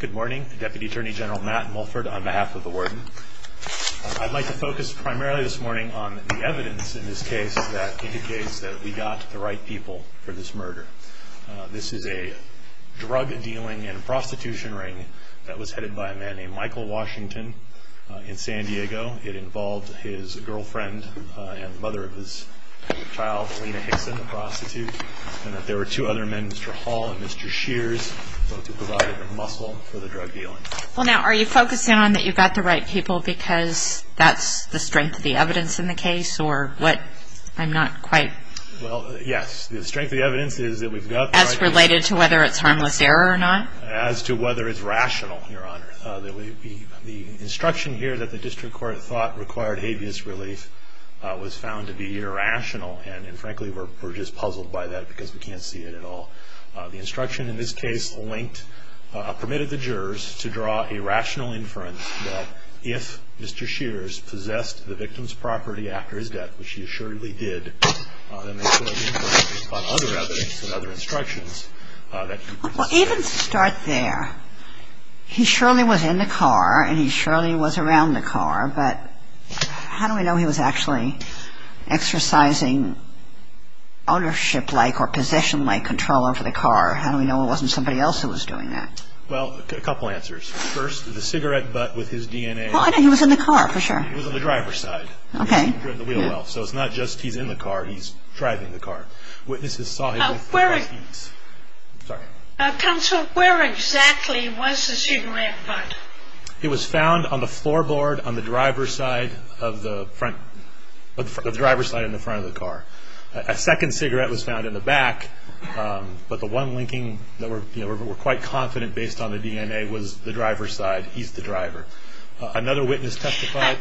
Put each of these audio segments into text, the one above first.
Good morning, Deputy Attorney General Matt Mulford on behalf of the warden. I'd like to focus primarily this morning on the evidence in this case that indicates that we got the right people for this murder. This is a drug dealing and prostitution ring that was headed by a man named Michael Washington in San Diego. It involved his girlfriend and mother of his child, Lena Hickson, the prostitute, and that there were two other men, Mr. Hall and Mr. Shears, both who provided the muscle for the drug dealing. Are you focusing on that you got the right people because that's the strength of the evidence in the case? Yes, the strength of the evidence is that we've got the right people. As related to whether it's harmless error or not? As to whether it's rational, Your Honor. The instruction here that the district court thought required habeas relief was found to be irrational and frankly we're just puzzled by that because we can't see it at all. The instruction in this case permitted the jurors to draw a rational inference that if Mr. Shears possessed the victim's property after his death, which he assuredly did, then they should have inferred from other evidence and other instructions. Even to start there, he surely was in the car and he surely was around the car, but how do we know he was actually exercising ownership-like or possession-like control over the car? How do we know it wasn't somebody else who was doing that? Well, a couple answers. First, the cigarette butt with his DNA. Well, I know he was in the car, for sure. He was on the driver's side. Okay. He was in the wheel well, so it's not just he's in the car, he's driving the car. Witnesses saw him with his knees. Counsel, where exactly was the cigarette butt? It was found on the floorboard on the driver's side in the front of the car. A second cigarette was found in the back, but the one linking that we're quite confident based on the DNA was the driver's side. He's the driver. Another witness testified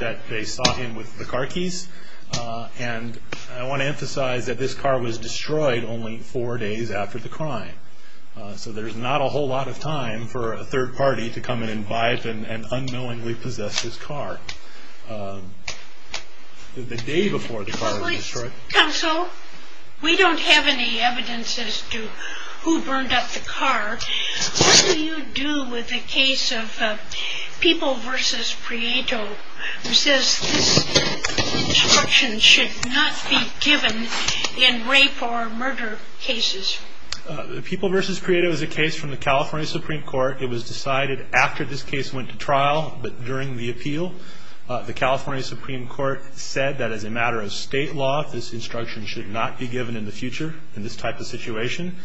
that they saw him with the car keys, and I want to emphasize that this car was destroyed only four days after the crime. So there's not a whole lot of time for a third party to come in and buy it and unknowingly possess his car the day before the car was destroyed. Counsel, we don't have any evidence as to who burned up the car. What do you do with the case of People v. Prieto, who says this instruction should not be given in rape or murder cases? The People v. Prieto is a case from the California Supreme Court. It was decided after this case went to trial, but during the appeal. The California Supreme Court said that as a matter of state law, this instruction should not be given in the future in this type of situation,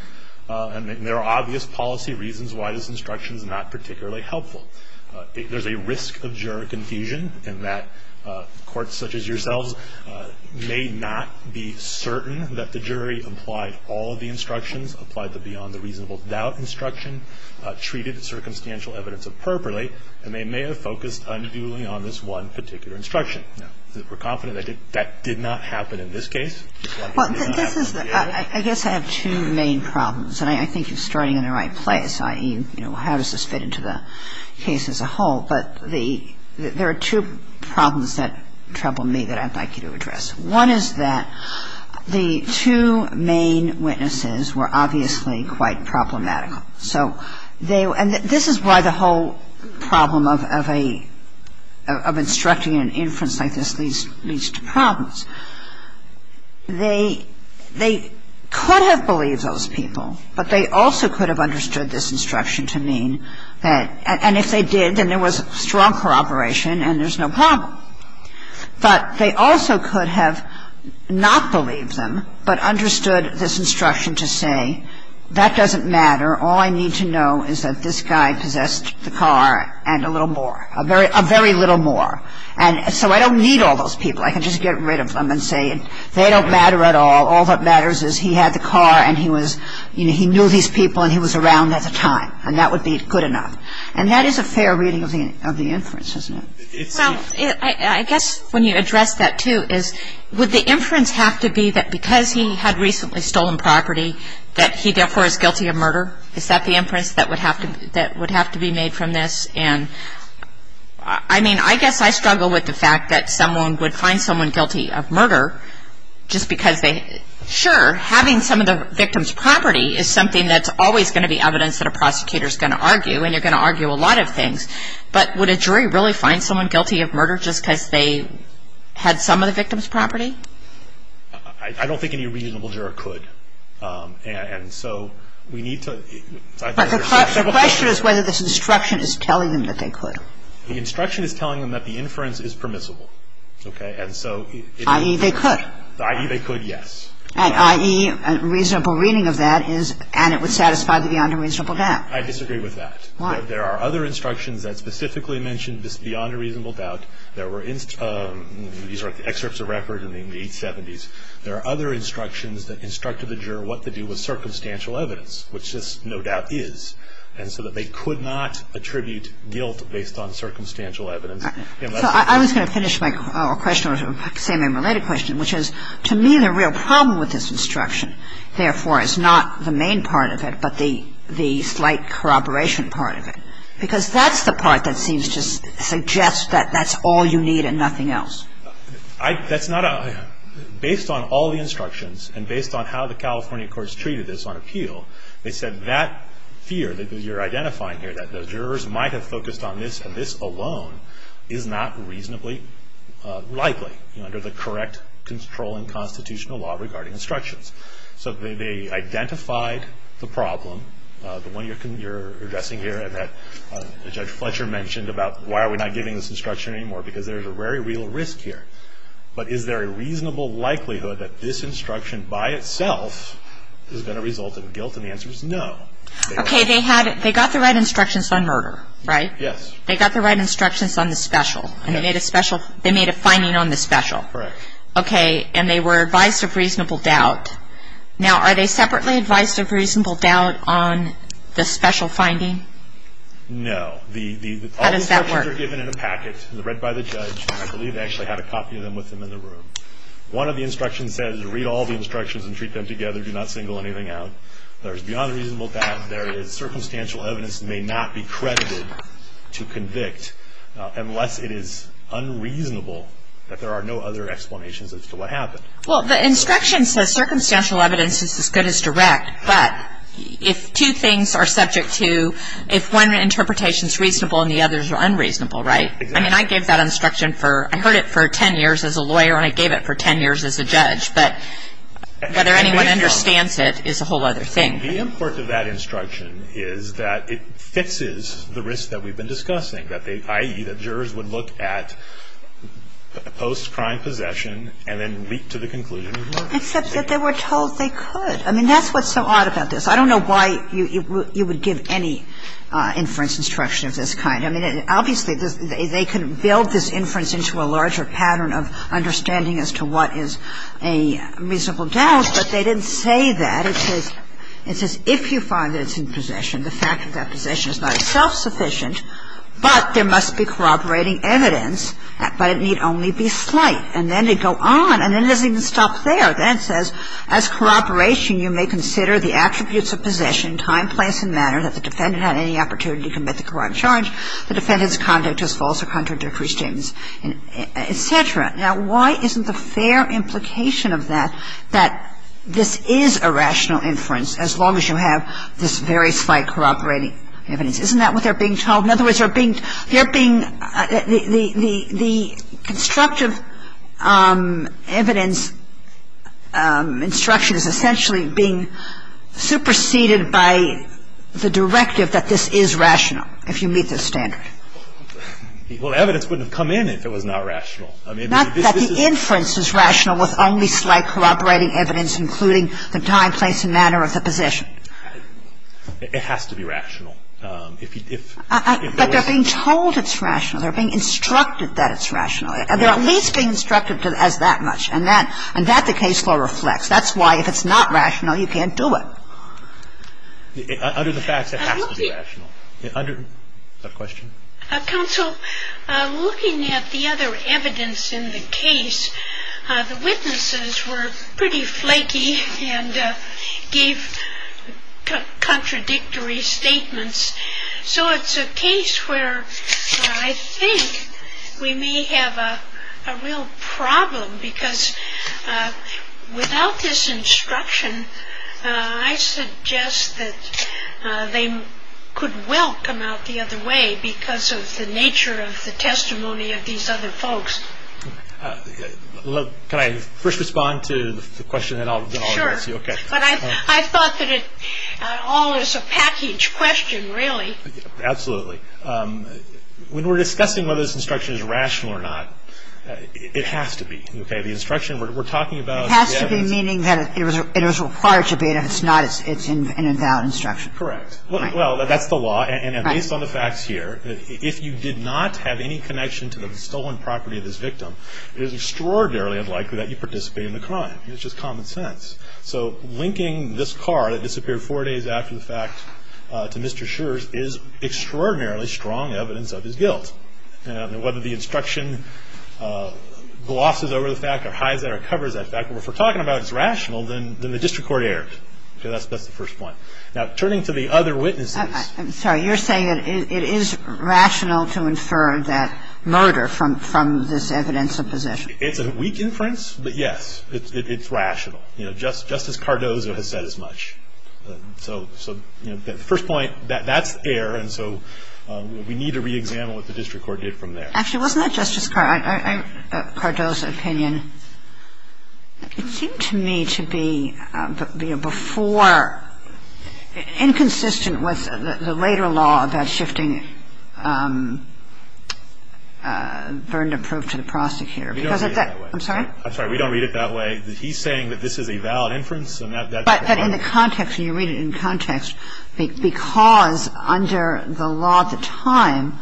and there are obvious policy reasons why this instruction is not particularly helpful. There's a risk of juror confusion in that courts such as yourselves may not be certain that the jury applied all of the instructions, applied the beyond-the-reasonable-doubt instruction, treated the circumstantial evidence appropriately, and they may have focused unduly on this one particular instruction. Now, we're confident that that did not happen in this case. Well, this is the – I guess I have two main problems, and I think you're starting in the right place, i.e., you know, how does this fit into the case as a whole. But the – there are two problems that trouble me that I'd like you to address. One is that the two main witnesses were obviously quite problematical. So they – and this is why the whole problem of a – of instructing an inference like this leads to problems. They could have believed those people, but they also could have understood this instruction to mean that – and if they did, then there was strong corroboration and there's no problem. But they also could have not believed them, but understood this instruction to say, that doesn't matter, all I need to know is that this guy possessed the car and a little more, a very little more. And so I don't need all those people. I can just get rid of them and say they don't matter at all. All that matters is he had the car and he was – you know, he knew these people and he was around at the time, and that would be good enough. And that is a fair reading of the inference, isn't it? Well, I guess when you address that, too, is would the inference have to be that because he had recently stolen property, that he therefore is guilty of murder? Is that the inference that would have to be made from this? And I mean, I guess I struggle with the fact that someone would find someone guilty of murder just because they – sure, having some of the victim's property is something that's always going to be evidence that a prosecutor is going to argue, and you're going to argue a lot of things. But would a jury really find someone guilty of murder just because they had some of the victim's property? I don't think any reasonable juror could. And so we need to – But the question is whether this instruction is telling them that they could. The instruction is telling them that the inference is permissible. Okay? And so – I.e., they could. I.e., they could, yes. And I.e., a reasonable reading of that is – and it would satisfy the beyond a reasonable doubt. I disagree with that. Why? Because there are other instructions that specifically mention this beyond a reasonable doubt. There were – these are excerpts of record in the 870s. There are other instructions that instructed the juror what to do with circumstantial evidence, which this no doubt is. And so that they could not attribute guilt based on circumstantial evidence unless they found it. So I was going to finish my question with a same-name related question, which is, to me, the real problem with this instruction, therefore, is not the main part of it, but the slight corroboration part of it. Because that's the part that seems to suggest that that's all you need and nothing else. I – that's not a – based on all the instructions and based on how the California courts treated this on appeal, they said that fear that you're identifying here, that the jurors might have focused on this and this alone, is not reasonably likely, you know, under the correct controlling constitutional law regarding instructions. So they identified the problem, the one you're addressing here, and that Judge Fletcher mentioned about why are we not giving this instruction anymore, because there's a very real risk here. But is there a reasonable likelihood that this instruction by itself is going to result in guilt? And the answer is no. They were – Okay. They had – they got the right instructions on murder, right? Yes. They got the right instructions on the special. And they made a special – they made a finding on the special. Correct. Okay. And they were advised of reasonable doubt. Now, are they separately advised of reasonable doubt on the special finding? No. The – How does that work? All the instructions are given in a packet. They're read by the judge. And I believe they actually have a copy of them with them in the room. One of the instructions says, read all the instructions and treat them together. Do not single anything out. There is beyond reasonable doubt. There is – circumstantial evidence may not be credited to convict unless it is Well, the instruction says circumstantial evidence is as good as direct. But if two things are subject to – if one interpretation is reasonable and the others are unreasonable, right? Exactly. I mean, I gave that instruction for – I heard it for 10 years as a lawyer, and I gave it for 10 years as a judge. But whether anyone understands it is a whole other thing. The import of that instruction is that it fixes the risk that we've been discussing, that they – i.e., that jurors would look at post-crime possession and then leap to the conclusion of murder. Except that they were told they could. I mean, that's what's so odd about this. I don't know why you would give any inference instruction of this kind. I mean, obviously, they can build this inference into a larger pattern of understanding as to what is a reasonable doubt. But they didn't say that. It says if you find that it's in possession, the fact of that possession is not self-sufficient, but there must be corroborating evidence, but it need only be slight. And then they go on, and then it doesn't even stop there. Then it says, as corroboration, you may consider the attributes of possession, time, place and manner, that the defendant had any opportunity to commit the crime of charge, the defendant's conduct was false or contradictory statements, et cetera. Now, why isn't the fair implication of that that this is a rational inference, as long as you have this very slight corroborating evidence? Isn't that what they're being told? In other words, they're being – the constructive evidence instruction is essentially being superseded by the directive that this is rational, if you meet this standard. Well, evidence wouldn't have come in if it was not rational. Not that the inference is rational with only slight corroborating evidence, including the time, place and manner of the possession. It has to be rational. But they're being told it's rational. They're being instructed that it's rational. They're at least being instructed as that much. And that the case law reflects. That's why if it's not rational, you can't do it. Under the facts, it has to be rational. Under – question? Counsel, looking at the other evidence in the case, the witnesses were pretty flaky and gave contradictory statements. So it's a case where I think we may have a real problem because without this instruction, I suggest that they could well come out the other way because of the nature of the testimony of these other folks. Look, can I first respond to the question and then I'll address you? Sure. Okay. But I thought that it all is a package question, really. Absolutely. When we're discussing whether this instruction is rational or not, it has to be. Okay? The instruction we're talking about. It has to be, meaning that it was required to be and it's not. It's an invalid instruction. Correct. Well, that's the law. And based on the facts here, if you did not have any connection to the stolen property of this victim, it is extraordinarily unlikely that you participated in the crime. It's just common sense. So linking this car that disappeared four days after the fact to Mr. Schur's is extraordinarily strong evidence of his guilt. And whether the instruction glosses over the fact or hides that or covers that fact, if we're talking about it's rational, then the district court errors. That's the first point. Now, turning to the other witnesses. I'm sorry. You're saying that it is rational to infer that murder from this evidence of possession. It's a weak inference, but, yes, it's rational. You know, Justice Cardozo has said as much. So, you know, the first point, that's error. And so we need to reexamine what the district court did from there. Actually, wasn't that Justice Cardozo's opinion? It seemed to me to be before inconsistent with the later law about shifting burden of proof to the prosecutor. We don't read it that way. I'm sorry? I'm sorry. We don't read it that way. He's saying that this is a valid inference. But in the context, you read it in context because under the law at the time,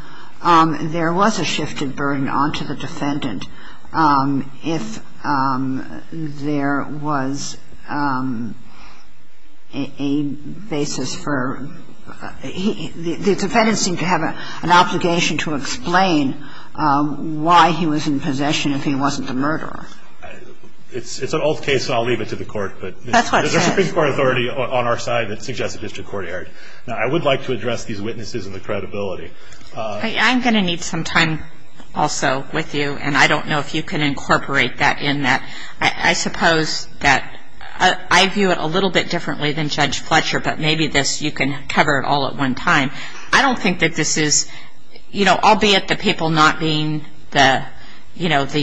there was a shifted burden onto the defendant. And if there was a basis for the defendant seemed to have an obligation to explain why he was in possession if he wasn't the murderer. It's an old case, and I'll leave it to the court. That's what it says. There's a Supreme Court authority on our side that suggests the district court erred. Now, I would like to address these witnesses and the credibility. I'm going to need some time also with you, and I don't know if you can incorporate that in that. I suppose that I view it a little bit differently than Judge Fletcher, but maybe this you can cover it all at one time. I don't think that this is, you know, albeit the people not being the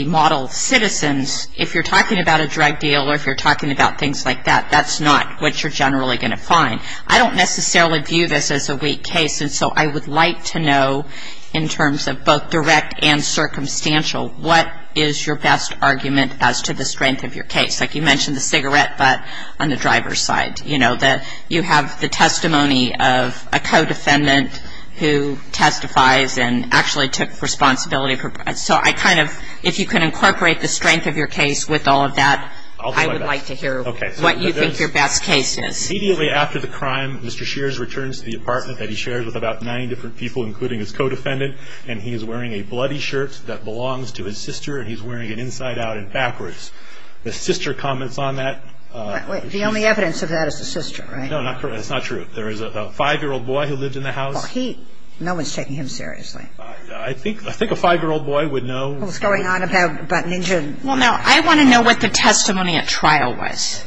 model citizens, if you're talking about a drug deal or if you're talking about things like that, that's not what you're generally going to find. I don't necessarily view this as a weak case. And so I would like to know in terms of both direct and circumstantial, what is your best argument as to the strength of your case? Like you mentioned the cigarette butt on the driver's side, you know, that you have the testimony of a co-defendant who testifies and actually took responsibility. So I kind of, if you can incorporate the strength of your case with all of that, I would like to hear what you think your best case is. Immediately after the crime, Mr. Shears returns to the apartment that he shares with about 90 different people, including his co-defendant, and he is wearing a bloody shirt that belongs to his sister, and he's wearing it inside out and backwards. The sister comments on that. The only evidence of that is the sister, right? No, that's not true. There is a 5-year-old boy who lives in the house. No one's taking him seriously. I think a 5-year-old boy would know. What was going on about Ninja? Well, now, I want to know what the testimony at trial was.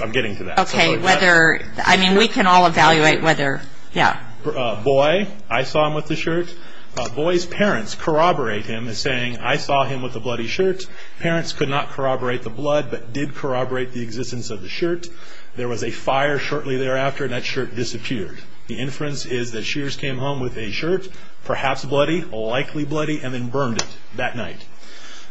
I'm getting to that. Okay, whether, I mean, we can all evaluate whether, yeah. Boy, I saw him with the shirt. Boy's parents corroborate him as saying, I saw him with the bloody shirt. Parents could not corroborate the blood but did corroborate the existence of the shirt. There was a fire shortly thereafter, and that shirt disappeared. The inference is that Shears came home with a shirt, perhaps bloody, likely bloody, and then burned it that night.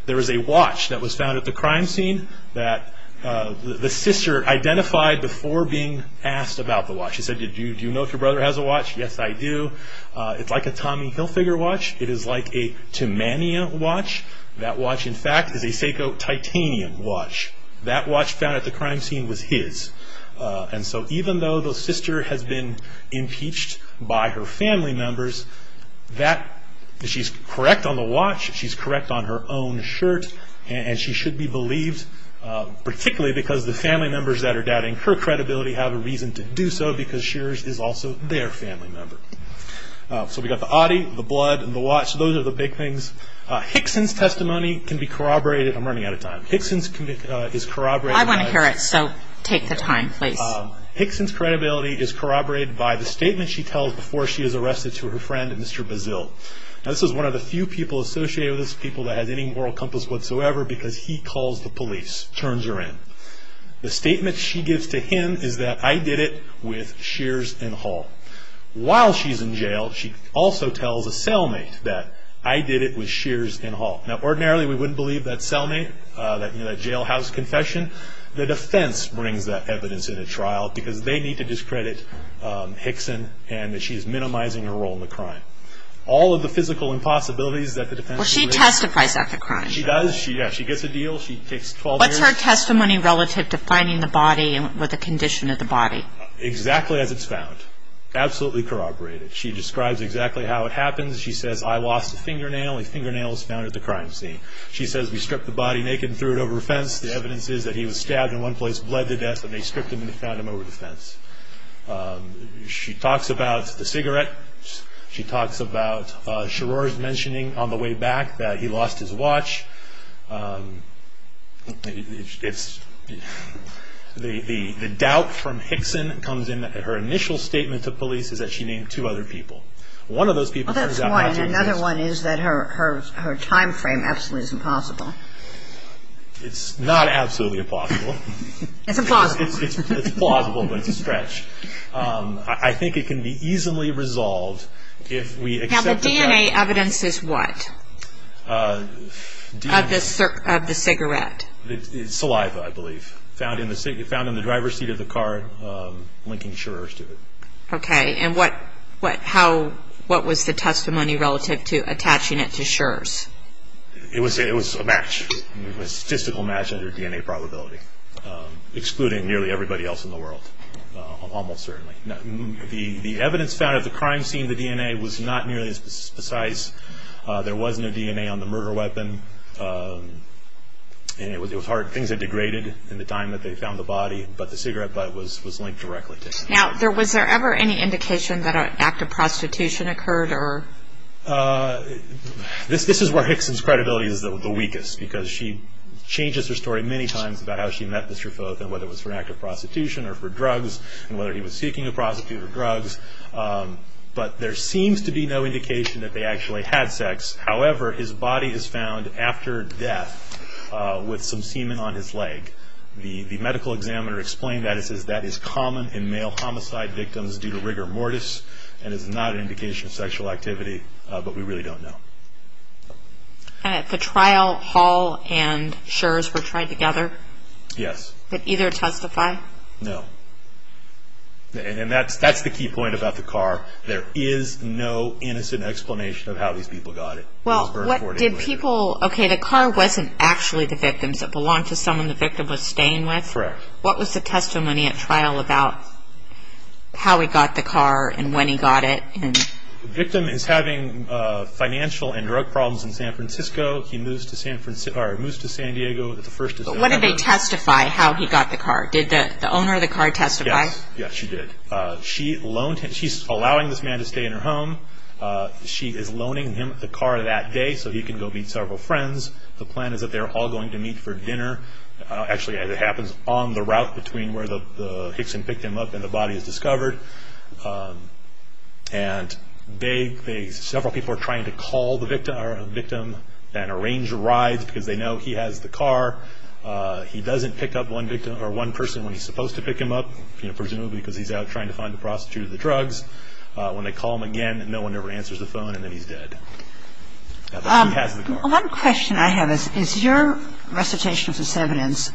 There is a watch that was found at the crime scene that the sister identified before being asked about the watch. She said, do you know if your brother has a watch? Yes, I do. It's like a Tommy Hilfiger watch. It is like a Timania watch. That watch, in fact, is a Seiko titanium watch. That watch found at the crime scene was his. And so even though the sister has been impeached by her family members, she's correct on the watch, she's correct on her own shirt, and she should be believed, particularly because the family members that are doubting her credibility have a reason to do so because Shears is also their family member. So we've got the oddy, the blood, and the watch. Those are the big things. Hickson's testimony can be corroborated. I'm running out of time. Hickson's testimony is corroborated. I want to hear it, so take the time, please. Hickson's credibility is corroborated by the statement she tells before she is arrested to her friend, Mr. Bazile. This is one of the few people associated with this, people that has any moral compass whatsoever, because he calls the police, turns her in. The statement she gives to him is that, I did it with Shears and Hall. While she's in jail, she also tells a cellmate that, I did it with Shears and Hall. Now ordinarily we wouldn't believe that cellmate, that jailhouse confession. The defense brings that evidence in a trial because they need to discredit Hickson and that she's minimizing her role in the crime. All of the physical impossibilities that the defense can raise. Well, she testifies at the crime. She does. She gets a deal. She takes 12 years. What's her testimony relative to finding the body with a condition of the body? Exactly as it's found. Absolutely corroborated. She describes exactly how it happens. She says, I lost a fingernail. A fingernail is found at the crime scene. She says, we stripped the body naked and threw it over a fence. The evidence is that he was stabbed in one place, bled to death, and they stripped him and found him over the fence. She talks about the cigarette. She talks about Scherrer's mentioning on the way back that he lost his watch. The doubt from Hickson comes in that her initial statement to police is that she named two other people. One of those people turns out not to be Hickson. Well, that's one. Another one is that her time frame absolutely is impossible. It's not absolutely impossible. It's plausible, but it's a stretch. I think it can be easily resolved if we accept the fact that Now, the DNA evidence is what? Of the cigarette? Saliva, I believe. Found in the driver's seat of the car linking Scherrer's to it. Okay. And what was the testimony relative to attaching it to Scherrer's? It was a match. It was a statistical match under DNA probability, excluding nearly everybody else in the world, almost certainly. The evidence found of the crime scene, the DNA, was not nearly as precise. There was no DNA on the murder weapon, and things had degraded in the time that they found the body, but the cigarette butt was linked directly to it. Now, was there ever any indication that an act of prostitution occurred? This is where Hickson's credibility is the weakest, because she changes her story many times about how she met Mr. Foth, and whether it was for an act of prostitution or for drugs, and whether he was seeking a prostitute or drugs, but there seems to be no indication that they actually had sex. However, his body is found after death with some semen on his leg. The medical examiner explained that. It says that is common in male homicide victims due to rigor mortis, and it's not an indication of sexual activity, but we really don't know. And at the trial, Hall and Scherz were tried together? Yes. Did either testify? No. And that's the key point about the car. There is no innocent explanation of how these people got it. Well, what did people... Okay, the car wasn't actually the victim's. It belonged to someone the victim was staying with? Correct. What was the testimony at trial about how he got the car and when he got it? The victim is having financial and drug problems in San Francisco. He moves to San Diego. But when did they testify how he got the car? Did the owner of the car testify? Yes. Yes, she did. She's allowing this man to stay in her home. She is loaning him the car that day so he can go meet several friends. The plan is that they're all going to meet for dinner. Actually, it happens on the route between where the Hickson picked him up and the body is discovered. And several people are trying to call the victim and arrange a ride because they know he has the car. He doesn't pick up one person when he's supposed to pick him up, presumably because he's out trying to find the prostitute or the drugs. When they call him again, no one ever answers the phone, and then he's dead. He has the car. One question I have is, is your recitation of this evidence,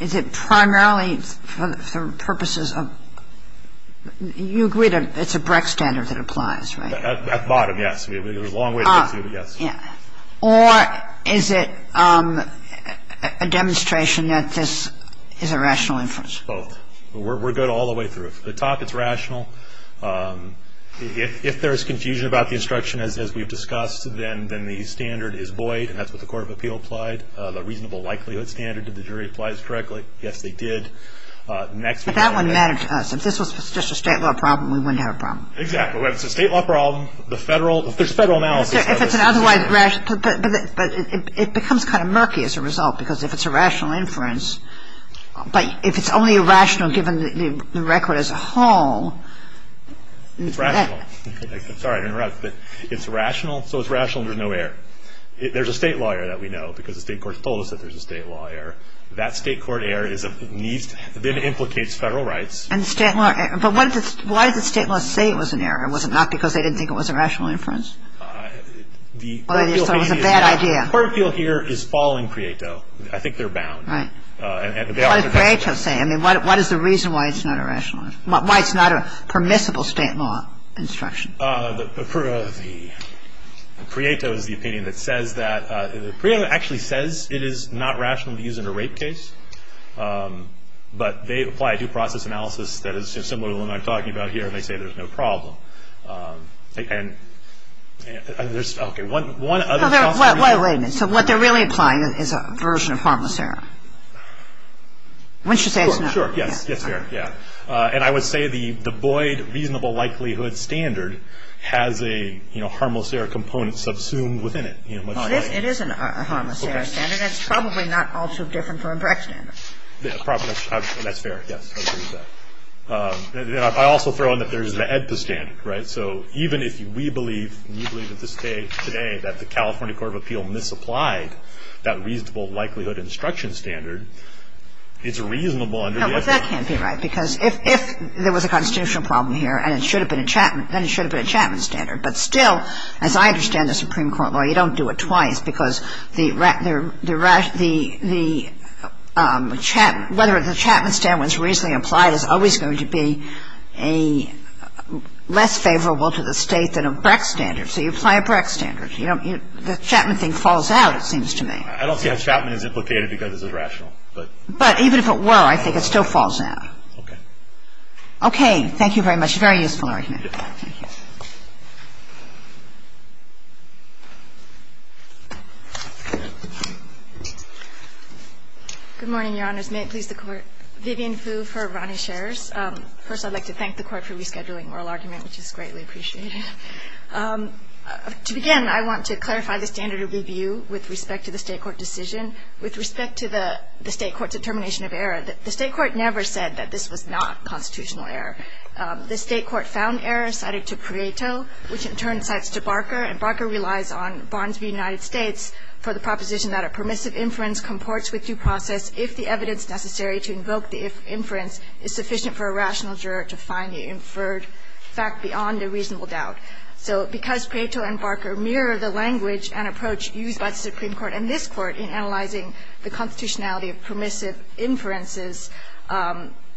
is it primarily for purposes of, you agree that it's a Brecht standard that applies, right? At the bottom, yes. There's a long way to get to it, yes. Or is it a demonstration that this is a rational inference? Both. We're good all the way through. The top, it's rational. If there's confusion about the instruction, as we've discussed, then the standard is void, and that's what the Court of Appeal applied, the reasonable likelihood standard. Did the jury apply this correctly? Yes, they did. Next. But that wouldn't matter to us. If this was just a state law problem, we wouldn't have a problem. Exactly. If it's a state law problem, the federal, if there's federal analysis. If it's an otherwise rational, but it becomes kind of murky as a result because if it's a rational inference, but if it's only rational given the record as a whole. It's rational. Sorry to interrupt, but it's rational, so it's rational, there's no error. There's a state lawyer that we know because the state court told us that there's a state lawyer. That state court error then implicates federal rights. But why did the state law say it was an error? Was it not because they didn't think it was a rational inference? Or they just thought it was a bad idea. The Court of Appeal here is following CREATE, though. I think they're bound. Right. What did CREATE say? I mean, what is the reason why it's not a permissible state law instruction? The CREATE is the opinion that says that, CREATE actually says it is not rational to use in a rape case, but they apply due process analysis that is similar to the one I'm talking about here, and they say there's no problem. And there's, okay, one other. Wait a minute. So what they're really applying is a version of harmless error. Wouldn't you say it's not? Sure. Yes, it's fair, yeah. And I would say the Boyd reasonable likelihood standard has a harmless error component subsumed within it. It is a harmless error standard. It's probably not all too different from a Brecht standard. That's fair, yes. I agree with that. I also throw in that there's the AEDPA standard, right? So even if we believe, we believe at this day, today, that the California Court of Appeal misapplied that reasonable likelihood instruction standard, it's reasonable under the AEDPA. No, but that can't be right, because if there was a constitutional problem here, and it should have been a Chapman, then it should have been a Chapman standard. But still, as I understand the Supreme Court law, you don't do it twice, because whether the Chapman standard was reasonably applied is always going to be a less favorable to the State than a Brecht standard. So you apply a Brecht standard. The Chapman thing falls out, it seems to me. I don't see how Chapman is implicated, because it's irrational. But even if it were, I think it still falls out. Okay. Okay. Thank you very much. Very useful argument. Thank you. Good morning, Your Honors. May it please the Court. Vivian Fu for Ronny Scherz. First, I'd like to thank the Court for rescheduling oral argument, which is greatly appreciated. To begin, I want to clarify the standard of review with respect to the State court decision. With respect to the State court determination of error, the State court never said that this was not constitutional error. The State court found error cited to Prieto, which in turn cites to Barker, and Barker relies on Bonds v. United States for the proposition that a permissive inference comports with due process if the evidence necessary to invoke the inference is sufficient for a rational juror to find the inferred fact beyond a reasonable doubt. So because Prieto and Barker mirror the language and approach used by the Supreme Court and this Court in analyzing the constitutionality of permissive inferences,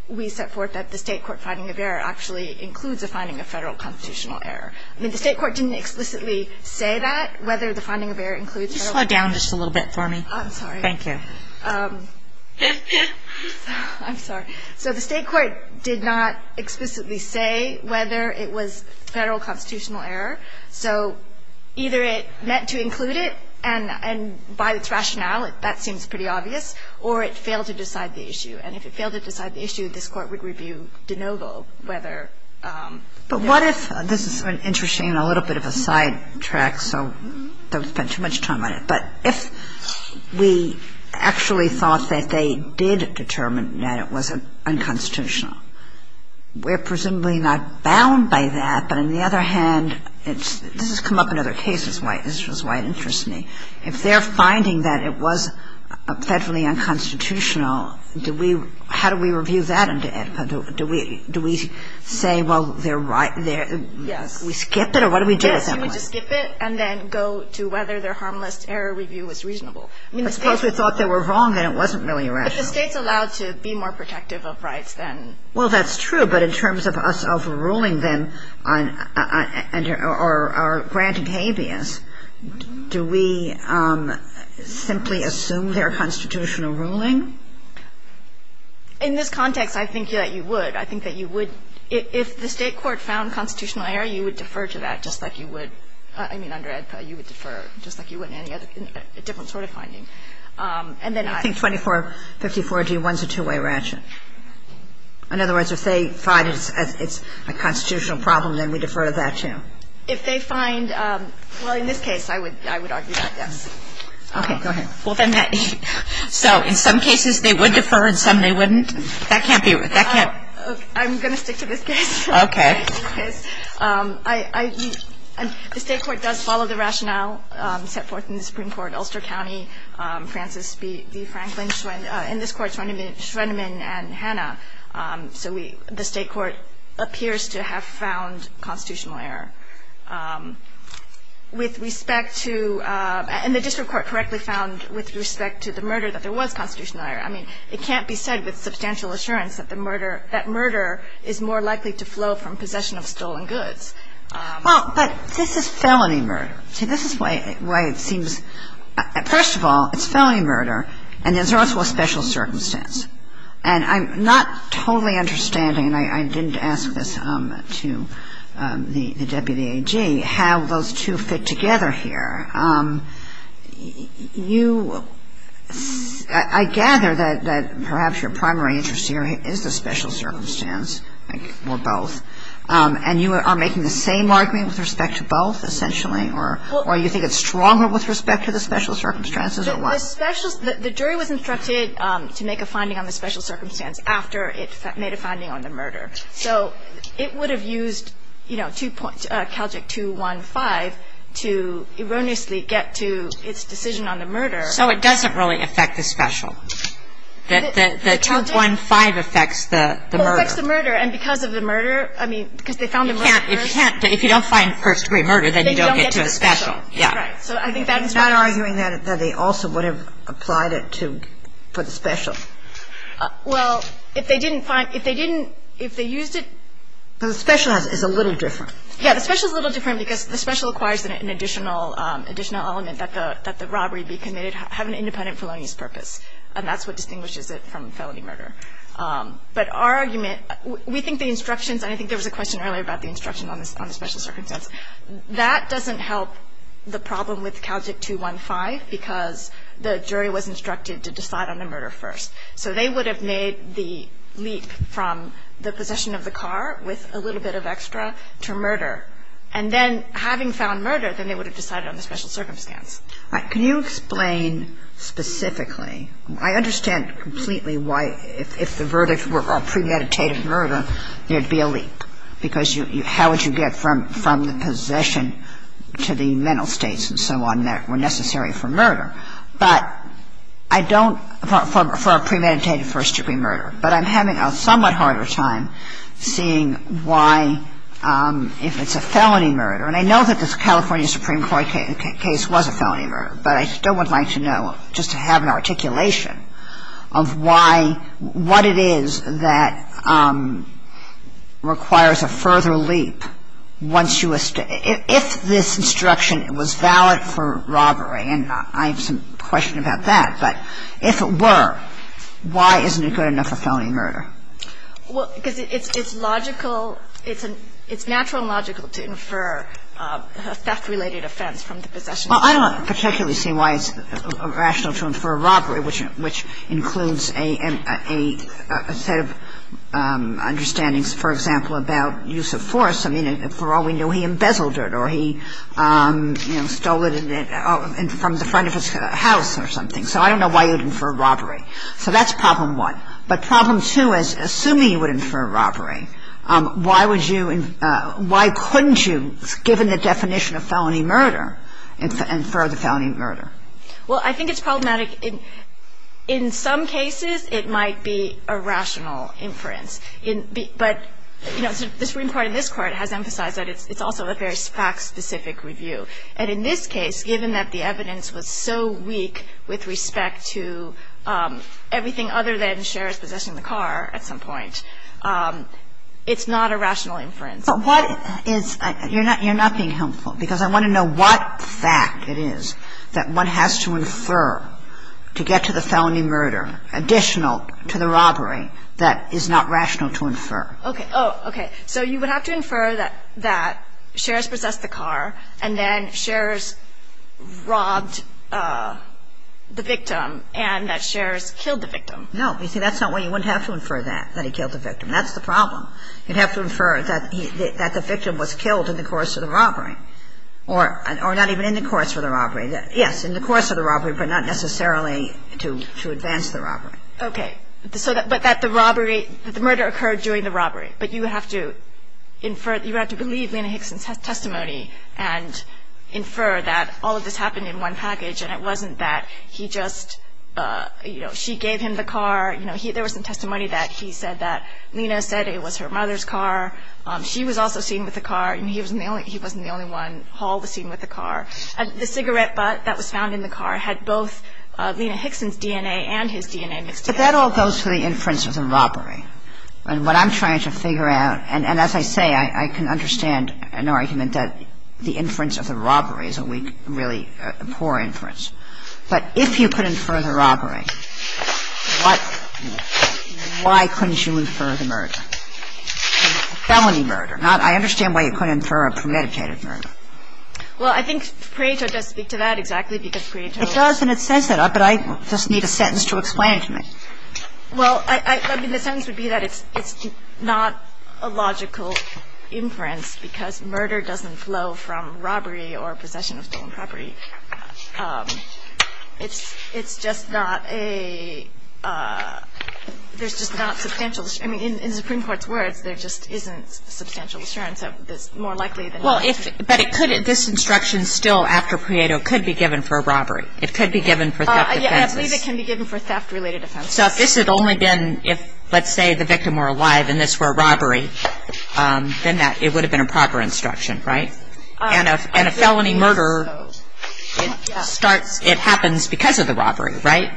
we set forth that the State court finding of error actually includes a finding of Federal constitutional error. The State court didn't explicitly say that, whether the finding of error includes Federal constitutional error. I'm sorry. Could you slow down just a little bit for me? I'm sorry. Thank you. I'm sorry. So the State court did not explicitly say whether it was Federal constitutional error. So either it meant to include it, and by its rationale, that seems pretty obvious, or it failed to decide the issue. And if it failed to decide the issue, this Court would review de novo whether it was. But what if this is an interesting and a little bit of a sidetrack, so don't spend too much time on it, but if we actually thought that they did determine that it was unconstitutional, we're presumably not bound by that. But on the other hand, it's – this has come up in other cases. This is why it interests me. If they're finding that it was Federally unconstitutional, do we – how do we review that? Do we say, well, they're right? Do we skip it, or what do we do with that one? We just skip it and then go to whether their harmless error review was reasonable. I mean, the State's – Suppose we thought they were wrong, then it wasn't really rational. If the State's allowed to be more protective of rights, then – Well, that's true. But in terms of us overruling them on – or granting habeas, do we simply assume their constitutional ruling? In this context, I think that you would. I think that you would – if the State court found constitutional error, you would defer to that, just like you would – I mean, under AEDPA, you would defer, just like you would in any other – a different sort of finding. And then I – I think 2454-G1 is a two-way ratchet. In other words, if they find it's a constitutional problem, then we defer to that, too. If they find – well, in this case, I would argue that, yes. Okay. Go ahead. Well, then that – so in some cases, they would defer, in some they wouldn't? That can't be – that can't – I'm going to stick to this case. Okay. The State court does follow the rationale set forth in the Supreme Court, Ulster County, Francis B. Franklin, Schwendeman – in this court, Schwendeman and Hanna. So we – the State court appears to have found constitutional error. With respect to – and the district court correctly found with respect to the murder that there was constitutional error. I mean, it can't be said with substantial assurance that the murder – that murder is more likely to flow from possession of stolen goods. Well, but this is felony murder. See, this is why it seems – first of all, it's felony murder, and there's also a special circumstance. And I'm not totally understanding – and I didn't ask this to the deputy AG – how those two fit together here. You – I gather that perhaps your primary interest here is the special circumstance, or both. And you are making the same argument with respect to both, essentially? Or you think it's stronger with respect to the special circumstances, or what? The special – the jury was instructed to make a finding on the special circumstance after it made a finding on the murder. So it would have used, you know, Caljic 215 to erroneously get to its decision on the murder. So it doesn't really affect the special. The 215 affects the murder. Well, it affects the murder. And because of the murder – I mean, because they found the murder first. You can't – you can't – if you don't find first-degree murder, then you don't get to the special. Then you don't get to the special. Yeah. Right. So I think that's why. I'm not arguing that they also would have applied it to – for the special. Well, if they didn't find – if they didn't – if they used it – The special is a little different. Yeah. The special is a little different because the special requires an additional element that the robbery be committed – have an independent felonious purpose. And that's what distinguishes it from felony murder. But our argument – we think the instructions – and I think there was a question earlier about the instruction on the special circumstance. That doesn't help the problem with Caljic 215 because the jury was instructed to decide on the murder first. So they would have made the leap from the possession of the car with a little bit of extra to murder. And then having found murder, then they would have decided on the special circumstance. All right. Can you explain specifically – I understand completely why if the verdict were a premeditated murder, there'd be a leap because you – how would you get from the possession to the mental states and so on that were necessary for murder. But I don't – for a premeditated first degree murder. But I'm having a somewhat harder time seeing why if it's a felony murder – and I know that the California Supreme Court case was a felony murder, but I still would like to know just to have an articulation of why – what it is that requires a further leap once you – if this instruction was valid for robbery. And I have some question about that. But if it were, why isn't it good enough for felony murder? Well, because it's logical – it's natural and logical to infer a theft-related offense from the possession. Well, I don't particularly see why it's rational to infer robbery, which includes a set of understandings, for example, about use of force. I mean, for all we know, he embezzled it or he stole it from the front of his house or something. So I don't know why you'd infer robbery. So that's problem one. But problem two is, assuming you would infer robbery, why would you – why couldn't you, given the definition of felony murder, infer the felony murder? Well, I think it's problematic. In some cases, it might be a rational inference. But, you know, the Supreme Court in this Court has emphasized that it's also a very fact-specific review. And in this case, given that the evidence was so weak with respect to everything other than Sheriff's possession of the car at some point, it's not a rational inference. But what is – you're not being helpful, because I want to know what fact it is that one has to infer to get to the felony murder additional to the robbery that is not rational to infer. Okay. Oh, okay. So you would have to infer that Sheriff's possessed the car and then Sheriff's robbed the victim and that Sheriff's killed the victim. No. You see, that's not why you wouldn't have to infer that, that he killed the victim. That's the problem. You'd have to infer that the victim was killed in the course of the robbery or not even in the course of the robbery. Yes, in the course of the robbery, but not necessarily to advance the robbery. Okay. But that the robbery – the murder occurred during the robbery. But you would have to infer – you would have to believe Lena Hickson's testimony and infer that all of this happened in one package and it wasn't that he just – you know, she gave him the car. You know, there was some testimony that he said that Lena said it was her mother's car. She was also seen with the car. He wasn't the only one hauled, seen with the car. The cigarette butt that was found in the car had both Lena Hickson's DNA and his DNA mixed together. But that all goes to the inference of the robbery. And what I'm trying to figure out – and as I say, I can understand an argument that the inference of the robbery is a really poor inference. But if you could infer the robbery, why couldn't you infer the murder? A felony murder, not – I understand why you couldn't infer a premeditated murder. Well, I think Pareto does speak to that exactly because Pareto – It does and it says that, but I just need a sentence to explain it to me. Well, I mean, the sentence would be that it's not a logical inference because murder doesn't flow from robbery or possession of stolen property. It's just not a – there's just not substantial – I mean, in the Supreme Court's words, there just isn't substantial assurance that it's more likely than not. Well, if – but it could – this instruction still after Pareto could be given for a robbery. It could be given for theft offenses. I believe it can be given for theft-related offenses. So if this had only been if, let's say, the victim were alive and this were a robbery, then that – it would have been a proper instruction, right? And a felony murder starts – it happens because of the robbery, right?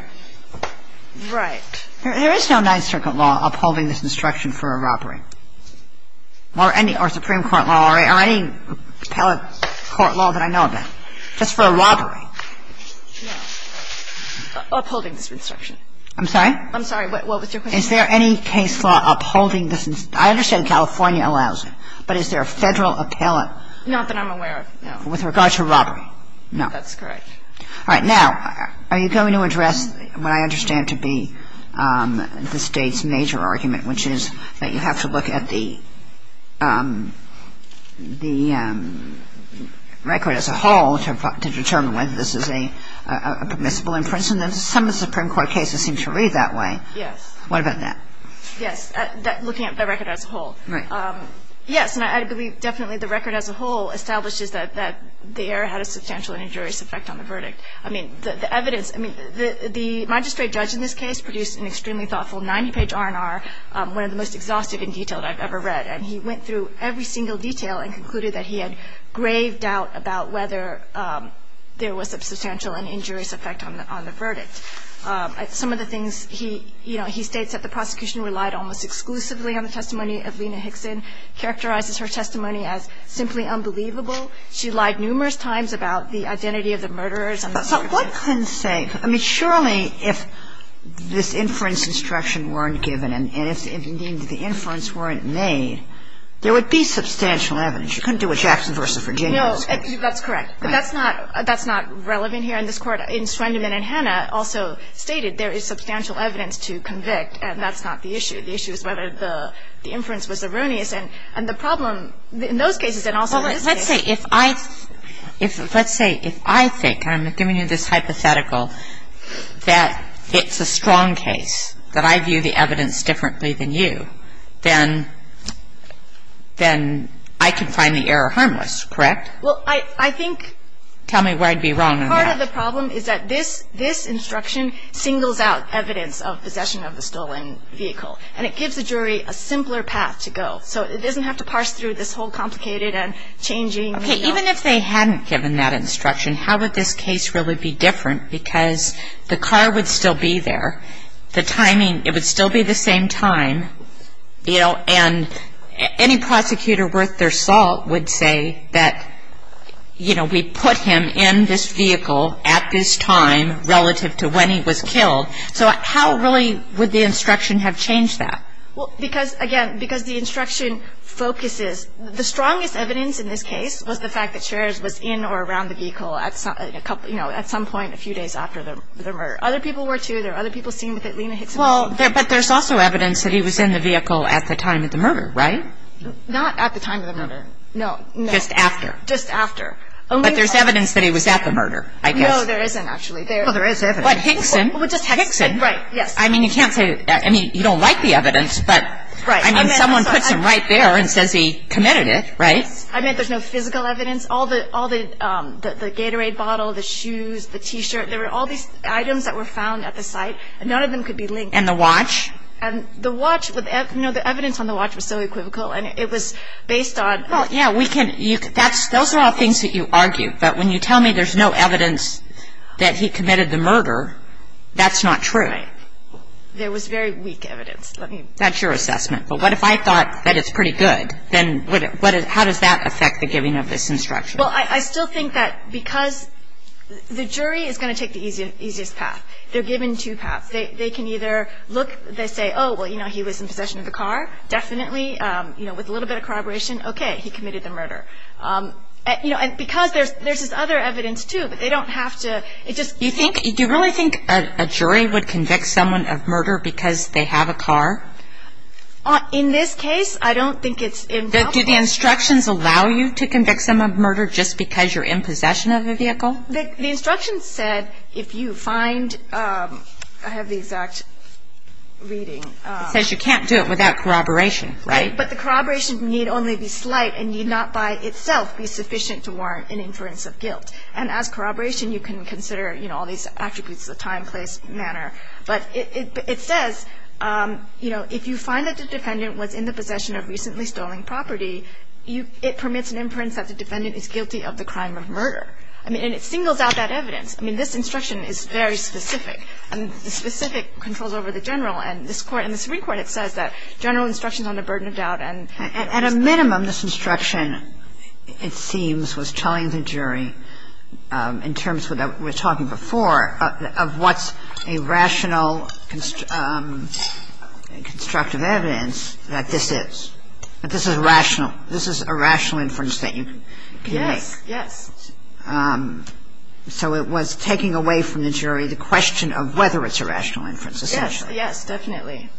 Right. There is no Ninth Circuit law upholding this instruction for a robbery. Or any – or Supreme Court law or any appellate court law that I know of that, just for a robbery. No. Upholding this instruction. I'm sorry? I'm sorry. What was your question? Is there any case law upholding this – I understand California allows it, but is there a Federal appellate? Not that I'm aware of, no. With regard to robbery? No. That's correct. All right. Now, are you going to address what I understand to be the State's major argument, which is that you have to look at the record as a whole to determine whether this is a permissible infringement? Some of the Supreme Court cases seem to read that way. Yes. What about that? Yes. Looking at the record as a whole. Right. Yes. And I believe definitely the record as a whole establishes that the error had a substantial and injurious effect on the verdict. I mean, the evidence – I mean, the magistrate judge in this case produced an extremely thoughtful 90-page R&R, one of the most exhaustive and detailed I've ever read. And he went through every single detail and concluded that he had grave doubt about whether there was a substantial and injurious effect on the verdict. Some of the things he – you know, he states that the prosecution relied almost exclusively on the testimony of Lena Hickson, characterizes her testimony as simply unbelievable. She lied numerous times about the identity of the murderers. But what can say – I mean, surely if this inference instruction weren't given and if, indeed, the inference weren't made, there would be substantial evidence. You couldn't do a Jackson v. Virginia in this case. No. That's correct. But that's not – that's not relevant here in this Court. In Schwendemann and Hannah, also stated, there is substantial evidence to convict and that's not the issue. The issue is whether the inference was erroneous. And the problem in those cases and also in this case – Well, let's say if I – let's say if I think, and I'm giving you this hypothetical, that it's a strong case, that I view the evidence differently than you, then I can find the error harmless, correct? Well, I think – Tell me where I'd be wrong on that. Part of the problem is that this instruction singles out evidence of possession of the stolen vehicle. And it gives the jury a simpler path to go. So it doesn't have to parse through this whole complicated and changing – Okay. Even if they hadn't given that instruction, how would this case really be different? Because the car would still be there. The timing – it would still be the same time, you know, and any prosecutor worth their salt would say that, you know, we put him in this vehicle at this time relative to when he was killed. So how really would the instruction have changed that? Well, because, again, because the instruction focuses – the strongest evidence in this case was the fact that Sharers was in or around the vehicle at some – you know, at some point a few days after the murder. Other people were, too. There are other people seen with it. Lena Hickson – Well, but there's also evidence that he was in the vehicle at the time of the murder, right? Not at the time of the murder. No, no. Just after. Just after. But there's evidence that he was at the murder, I guess. No, there isn't, actually. Well, there is evidence. But Hickson – Well, just Hickson. Hickson. I mean, you can't say – I mean, you don't like the evidence, but – Right. I mean, someone puts him right there and says he committed it, right? I mean, there's no physical evidence. All the Gatorade bottle, the shoes, the T-shirt – there were all these items that were found at the site, and none of them could be linked. And the watch? And the watch – you know, the evidence on the watch was so equivocal, and it was based on – Well, yeah, we can – those are all things that you argue. But when you tell me there's no evidence that he committed the murder, that's not true. Right. There was very weak evidence. Let me – That's your assessment. But what if I thought that it's pretty good? Then what – how does that affect the giving of this instruction? Well, I still think that because – the jury is going to take the easiest path. They're given two paths. They can either look – they say, oh, well, you know, he was in possession of the car. Definitely, you know, with a little bit of corroboration, okay, he committed the murder. You know, and because there's this other evidence, too, but they don't have to – it just – Do you think – do you really think a jury would convict someone of murder because they have a car? In this case, I don't think it's – Do the instructions allow you to convict someone of murder just because you're in possession of a vehicle? The instructions said if you find – I have the exact reading. It says you can't do it without corroboration, right? But the corroboration need only be slight and need not by itself be sufficient to warrant an inference of guilt. And as corroboration, you can consider, you know, all these attributes of time, place, manner. But it says, you know, if you find that the defendant was in the possession of recently stolen property, it permits an inference that the defendant is guilty of the crime of murder. I mean, and it singles out that evidence. I mean, this instruction is very specific, and the specific controls over the general. And this Court – in the Supreme Court, it says that general instructions on the burden of doubt and – But at a minimum, this instruction, it seems, was telling the jury in terms of what we were talking before, of what's a rational constructive evidence that this is. That this is rational. This is a rational inference that you can make. Yes, yes. So it was taking away from the jury the question of whether it's a rational inference, essentially. Yes, yes, definitely.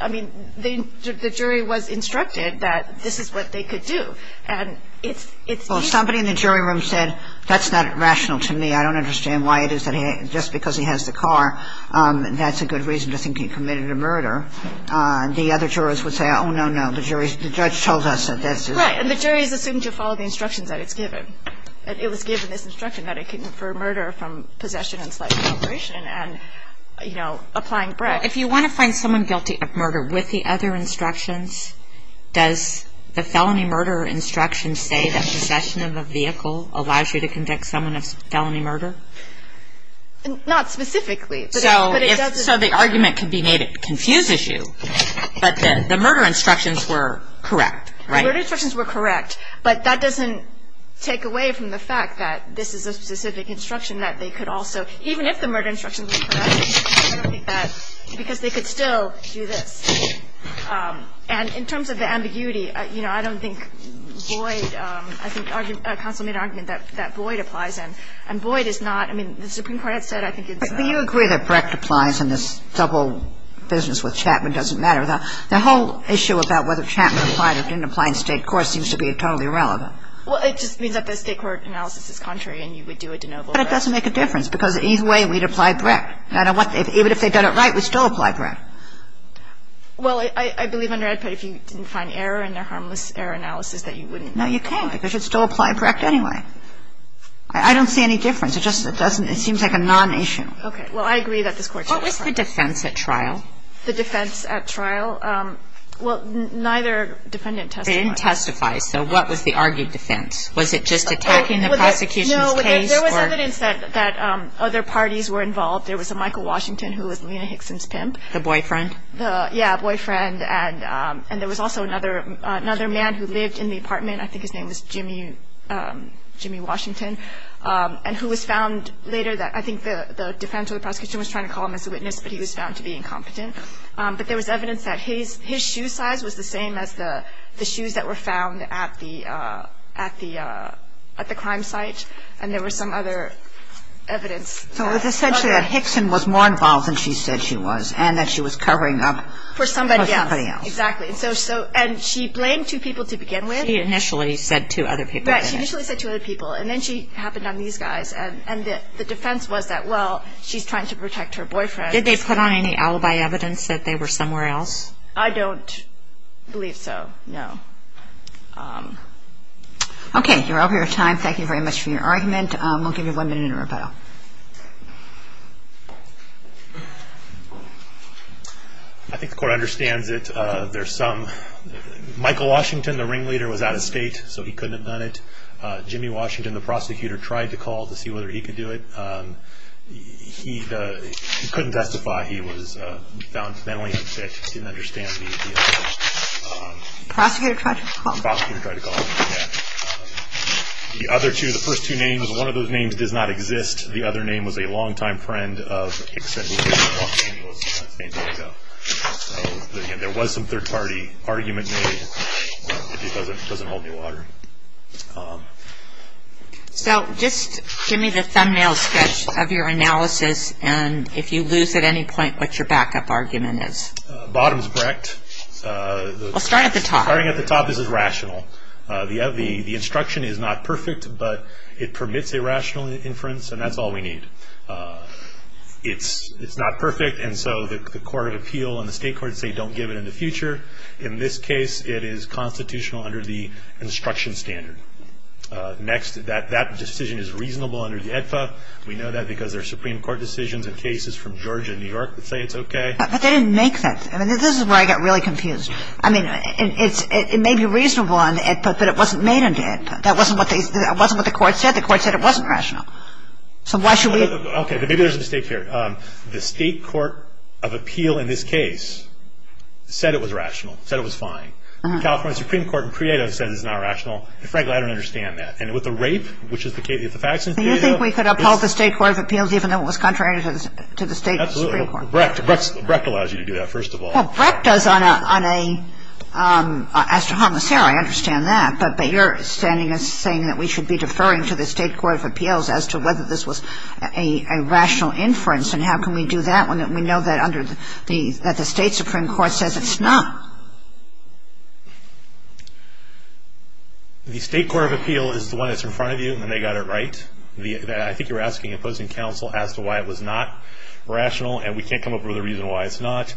I mean, the jury was instructed that this is what they could do. And it's – Well, somebody in the jury room said, that's not rational to me. I don't understand why it is that he – just because he has the car, that's a good reason to think he committed a murder. The other jurors would say, oh, no, no, the jury's – the judge told us that this is – Right. And the jury's assumed to have followed the instructions that it's given. It was given this instruction that it can infer murder from possession and slight corroboration and, you know, applying Brecht. Well, if you want to find someone guilty of murder with the other instructions, does the felony murder instruction say that possession of a vehicle allows you to convict someone of felony murder? Not specifically. But it doesn't – So the argument could be made it confuses you. But the murder instructions were correct, right? The murder instructions were correct. But that doesn't take away from the fact that this is a specific instruction that they could also – Because they could still do this. And in terms of the ambiguity, you know, I don't think Boyd – I think counsel made an argument that Boyd applies in. And Boyd is not – I mean, the Supreme Court had said I think it's a – But do you agree that Brecht applies in this double business with Chapman doesn't matter? The whole issue about whether Chapman applied or didn't apply in State court seems to be totally irrelevant. Well, it just means that the State court analysis is contrary and you would do a de novo. But it doesn't make a difference because either way, we'd apply Brecht. Even if they'd done it right, we'd still apply Brecht. Well, I believe under AEDPA, if you didn't find error in their harmless error analysis, that you wouldn't apply. No, you can't because you'd still apply Brecht anyway. I don't see any difference. It just doesn't – it seems like a non-issue. Well, I agree that this Court should apply Brecht. What was the defense at trial? The defense at trial? Well, neither defendant testified. They didn't testify. So what was the argued defense? Was it just attacking the prosecution's case? No, there was evidence that other parties were involved. There was a Michael Washington who was Lena Hickson's pimp. The boyfriend? Yeah, boyfriend. And there was also another man who lived in the apartment. I think his name was Jimmy Washington. And who was found later that – I think the defense or the prosecution was trying to call him as a witness, but he was found to be incompetent. But there was evidence that his shoe size was the same as the shoes that were found at the crime site. And there was some other evidence. So it was essentially that Hickson was more involved than she said she was, and that she was covering up for somebody else. For somebody else. Exactly. And so – and she blamed two people to begin with. She initially said two other people. Right. She initially said two other people. And then she happened on these guys. And the defense was that, well, she's trying to protect her boyfriend. Did they put on any alibi evidence that they were somewhere else? Okay. You're over your time. Thank you very much for your argument. We'll give you one minute in rebuttal. I think the court understands it. There's some – Michael Washington, the ringleader, was out of state, so he couldn't have done it. Jimmy Washington, the prosecutor, tried to call to see whether he could do it. He couldn't testify. He was found mentally unfit. He didn't understand the evidence. The prosecutor tried to call. The prosecutor tried to call. The other two – the first two names, one of those names does not exist. The other name was a long-time friend of – There was some third-party argument made. It doesn't hold any water. So just give me the thumbnail sketch of your analysis, and if you lose at any point, what your backup argument is. Bottom's correct. We'll start at the top. Starting at the top, this is rational. The instruction is not perfect, but it permits a rational inference, and that's all we need. It's not perfect, and so the Court of Appeal and the State Court say don't give it in the future. In this case, it is constitutional under the instruction standard. Next, that decision is reasonable under the EDFA. We know that because there are Supreme Court decisions and cases from Georgia and New York that say it's okay. But they didn't make that. I mean, this is where I get really confused. I mean, it may be reasonable on the EDFA, but it wasn't made on the EDFA. That wasn't what the Court said. The Court said it wasn't rational. So why should we – Okay, maybe there's a mistake here. The State Court of Appeal in this case said it was rational, said it was fine. The California Supreme Court in CREAO says it's not rational, and frankly, I don't understand that. And with the rape, which is the case – Do you think we could uphold the State Court of Appeals even though it was contrary to the State Supreme Court? Absolutely. Brecht allows you to do that, first of all. Well, Brecht does on a – as to homicidal, I understand that. But you're saying that we should be deferring to the State Court of Appeals as to whether this was a rational inference, and how can we do that when we know that under the – that the State Supreme Court says it's not? The State Court of Appeal is the one that's in front of you, and they got it right. I think you're asking opposing counsel as to why it was not rational, and we can't come up with a reason why it's not.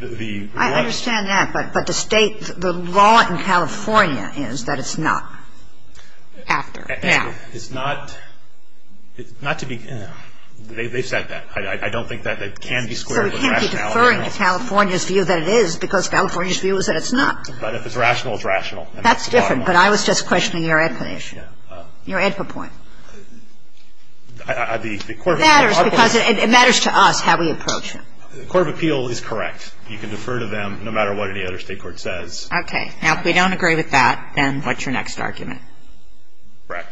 The one – I understand that, but the State – the law in California is that it's not. After. Yeah. It's not – it's not to be – they've said that. I don't think that can be squared with rationality. So we can't be deferring to California's view that it is because California's view is that it's not. But if it's rational, it's rational. That's different. But I was just questioning your EDPA issue, your EDPA point. The Court of Appeals – It matters because it matters to us how we approach it. The Court of Appeal is correct. You can defer to them no matter what any other State court says. Okay. Now, if we don't agree with that, then what's your next argument? Correct.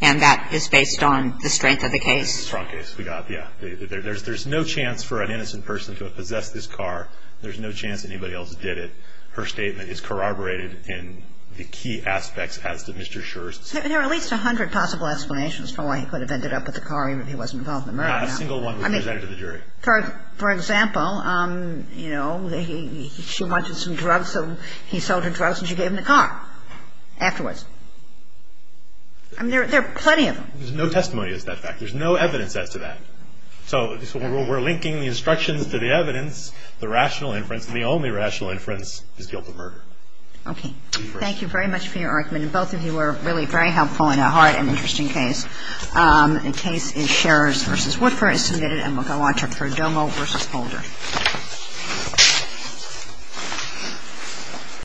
And that is based on the strength of the case? The strong case we got, yeah. There's no chance for an innocent person to have possessed this car. There's no chance anybody else did it. Her statement is corroborated in the key aspects as to Mr. Schur's – There are at least 100 possible explanations for why he could have ended up with the car even if he wasn't involved in the murder. I mean, for example, you know, she wanted some drugs, so he sold her drugs and she gave him the car afterwards. I mean, there are plenty of them. There's no testimony as to that fact. There's no evidence as to that. So we're linking the instructions to the evidence, the rational inference, and the only rational inference is guilt of murder. Okay. Thank you very much for your argument. And both of you were really very helpful in a hard and interesting case. The case is Scherrer's v. Woodford is submitted and we'll go on to Prodomo v. Holder.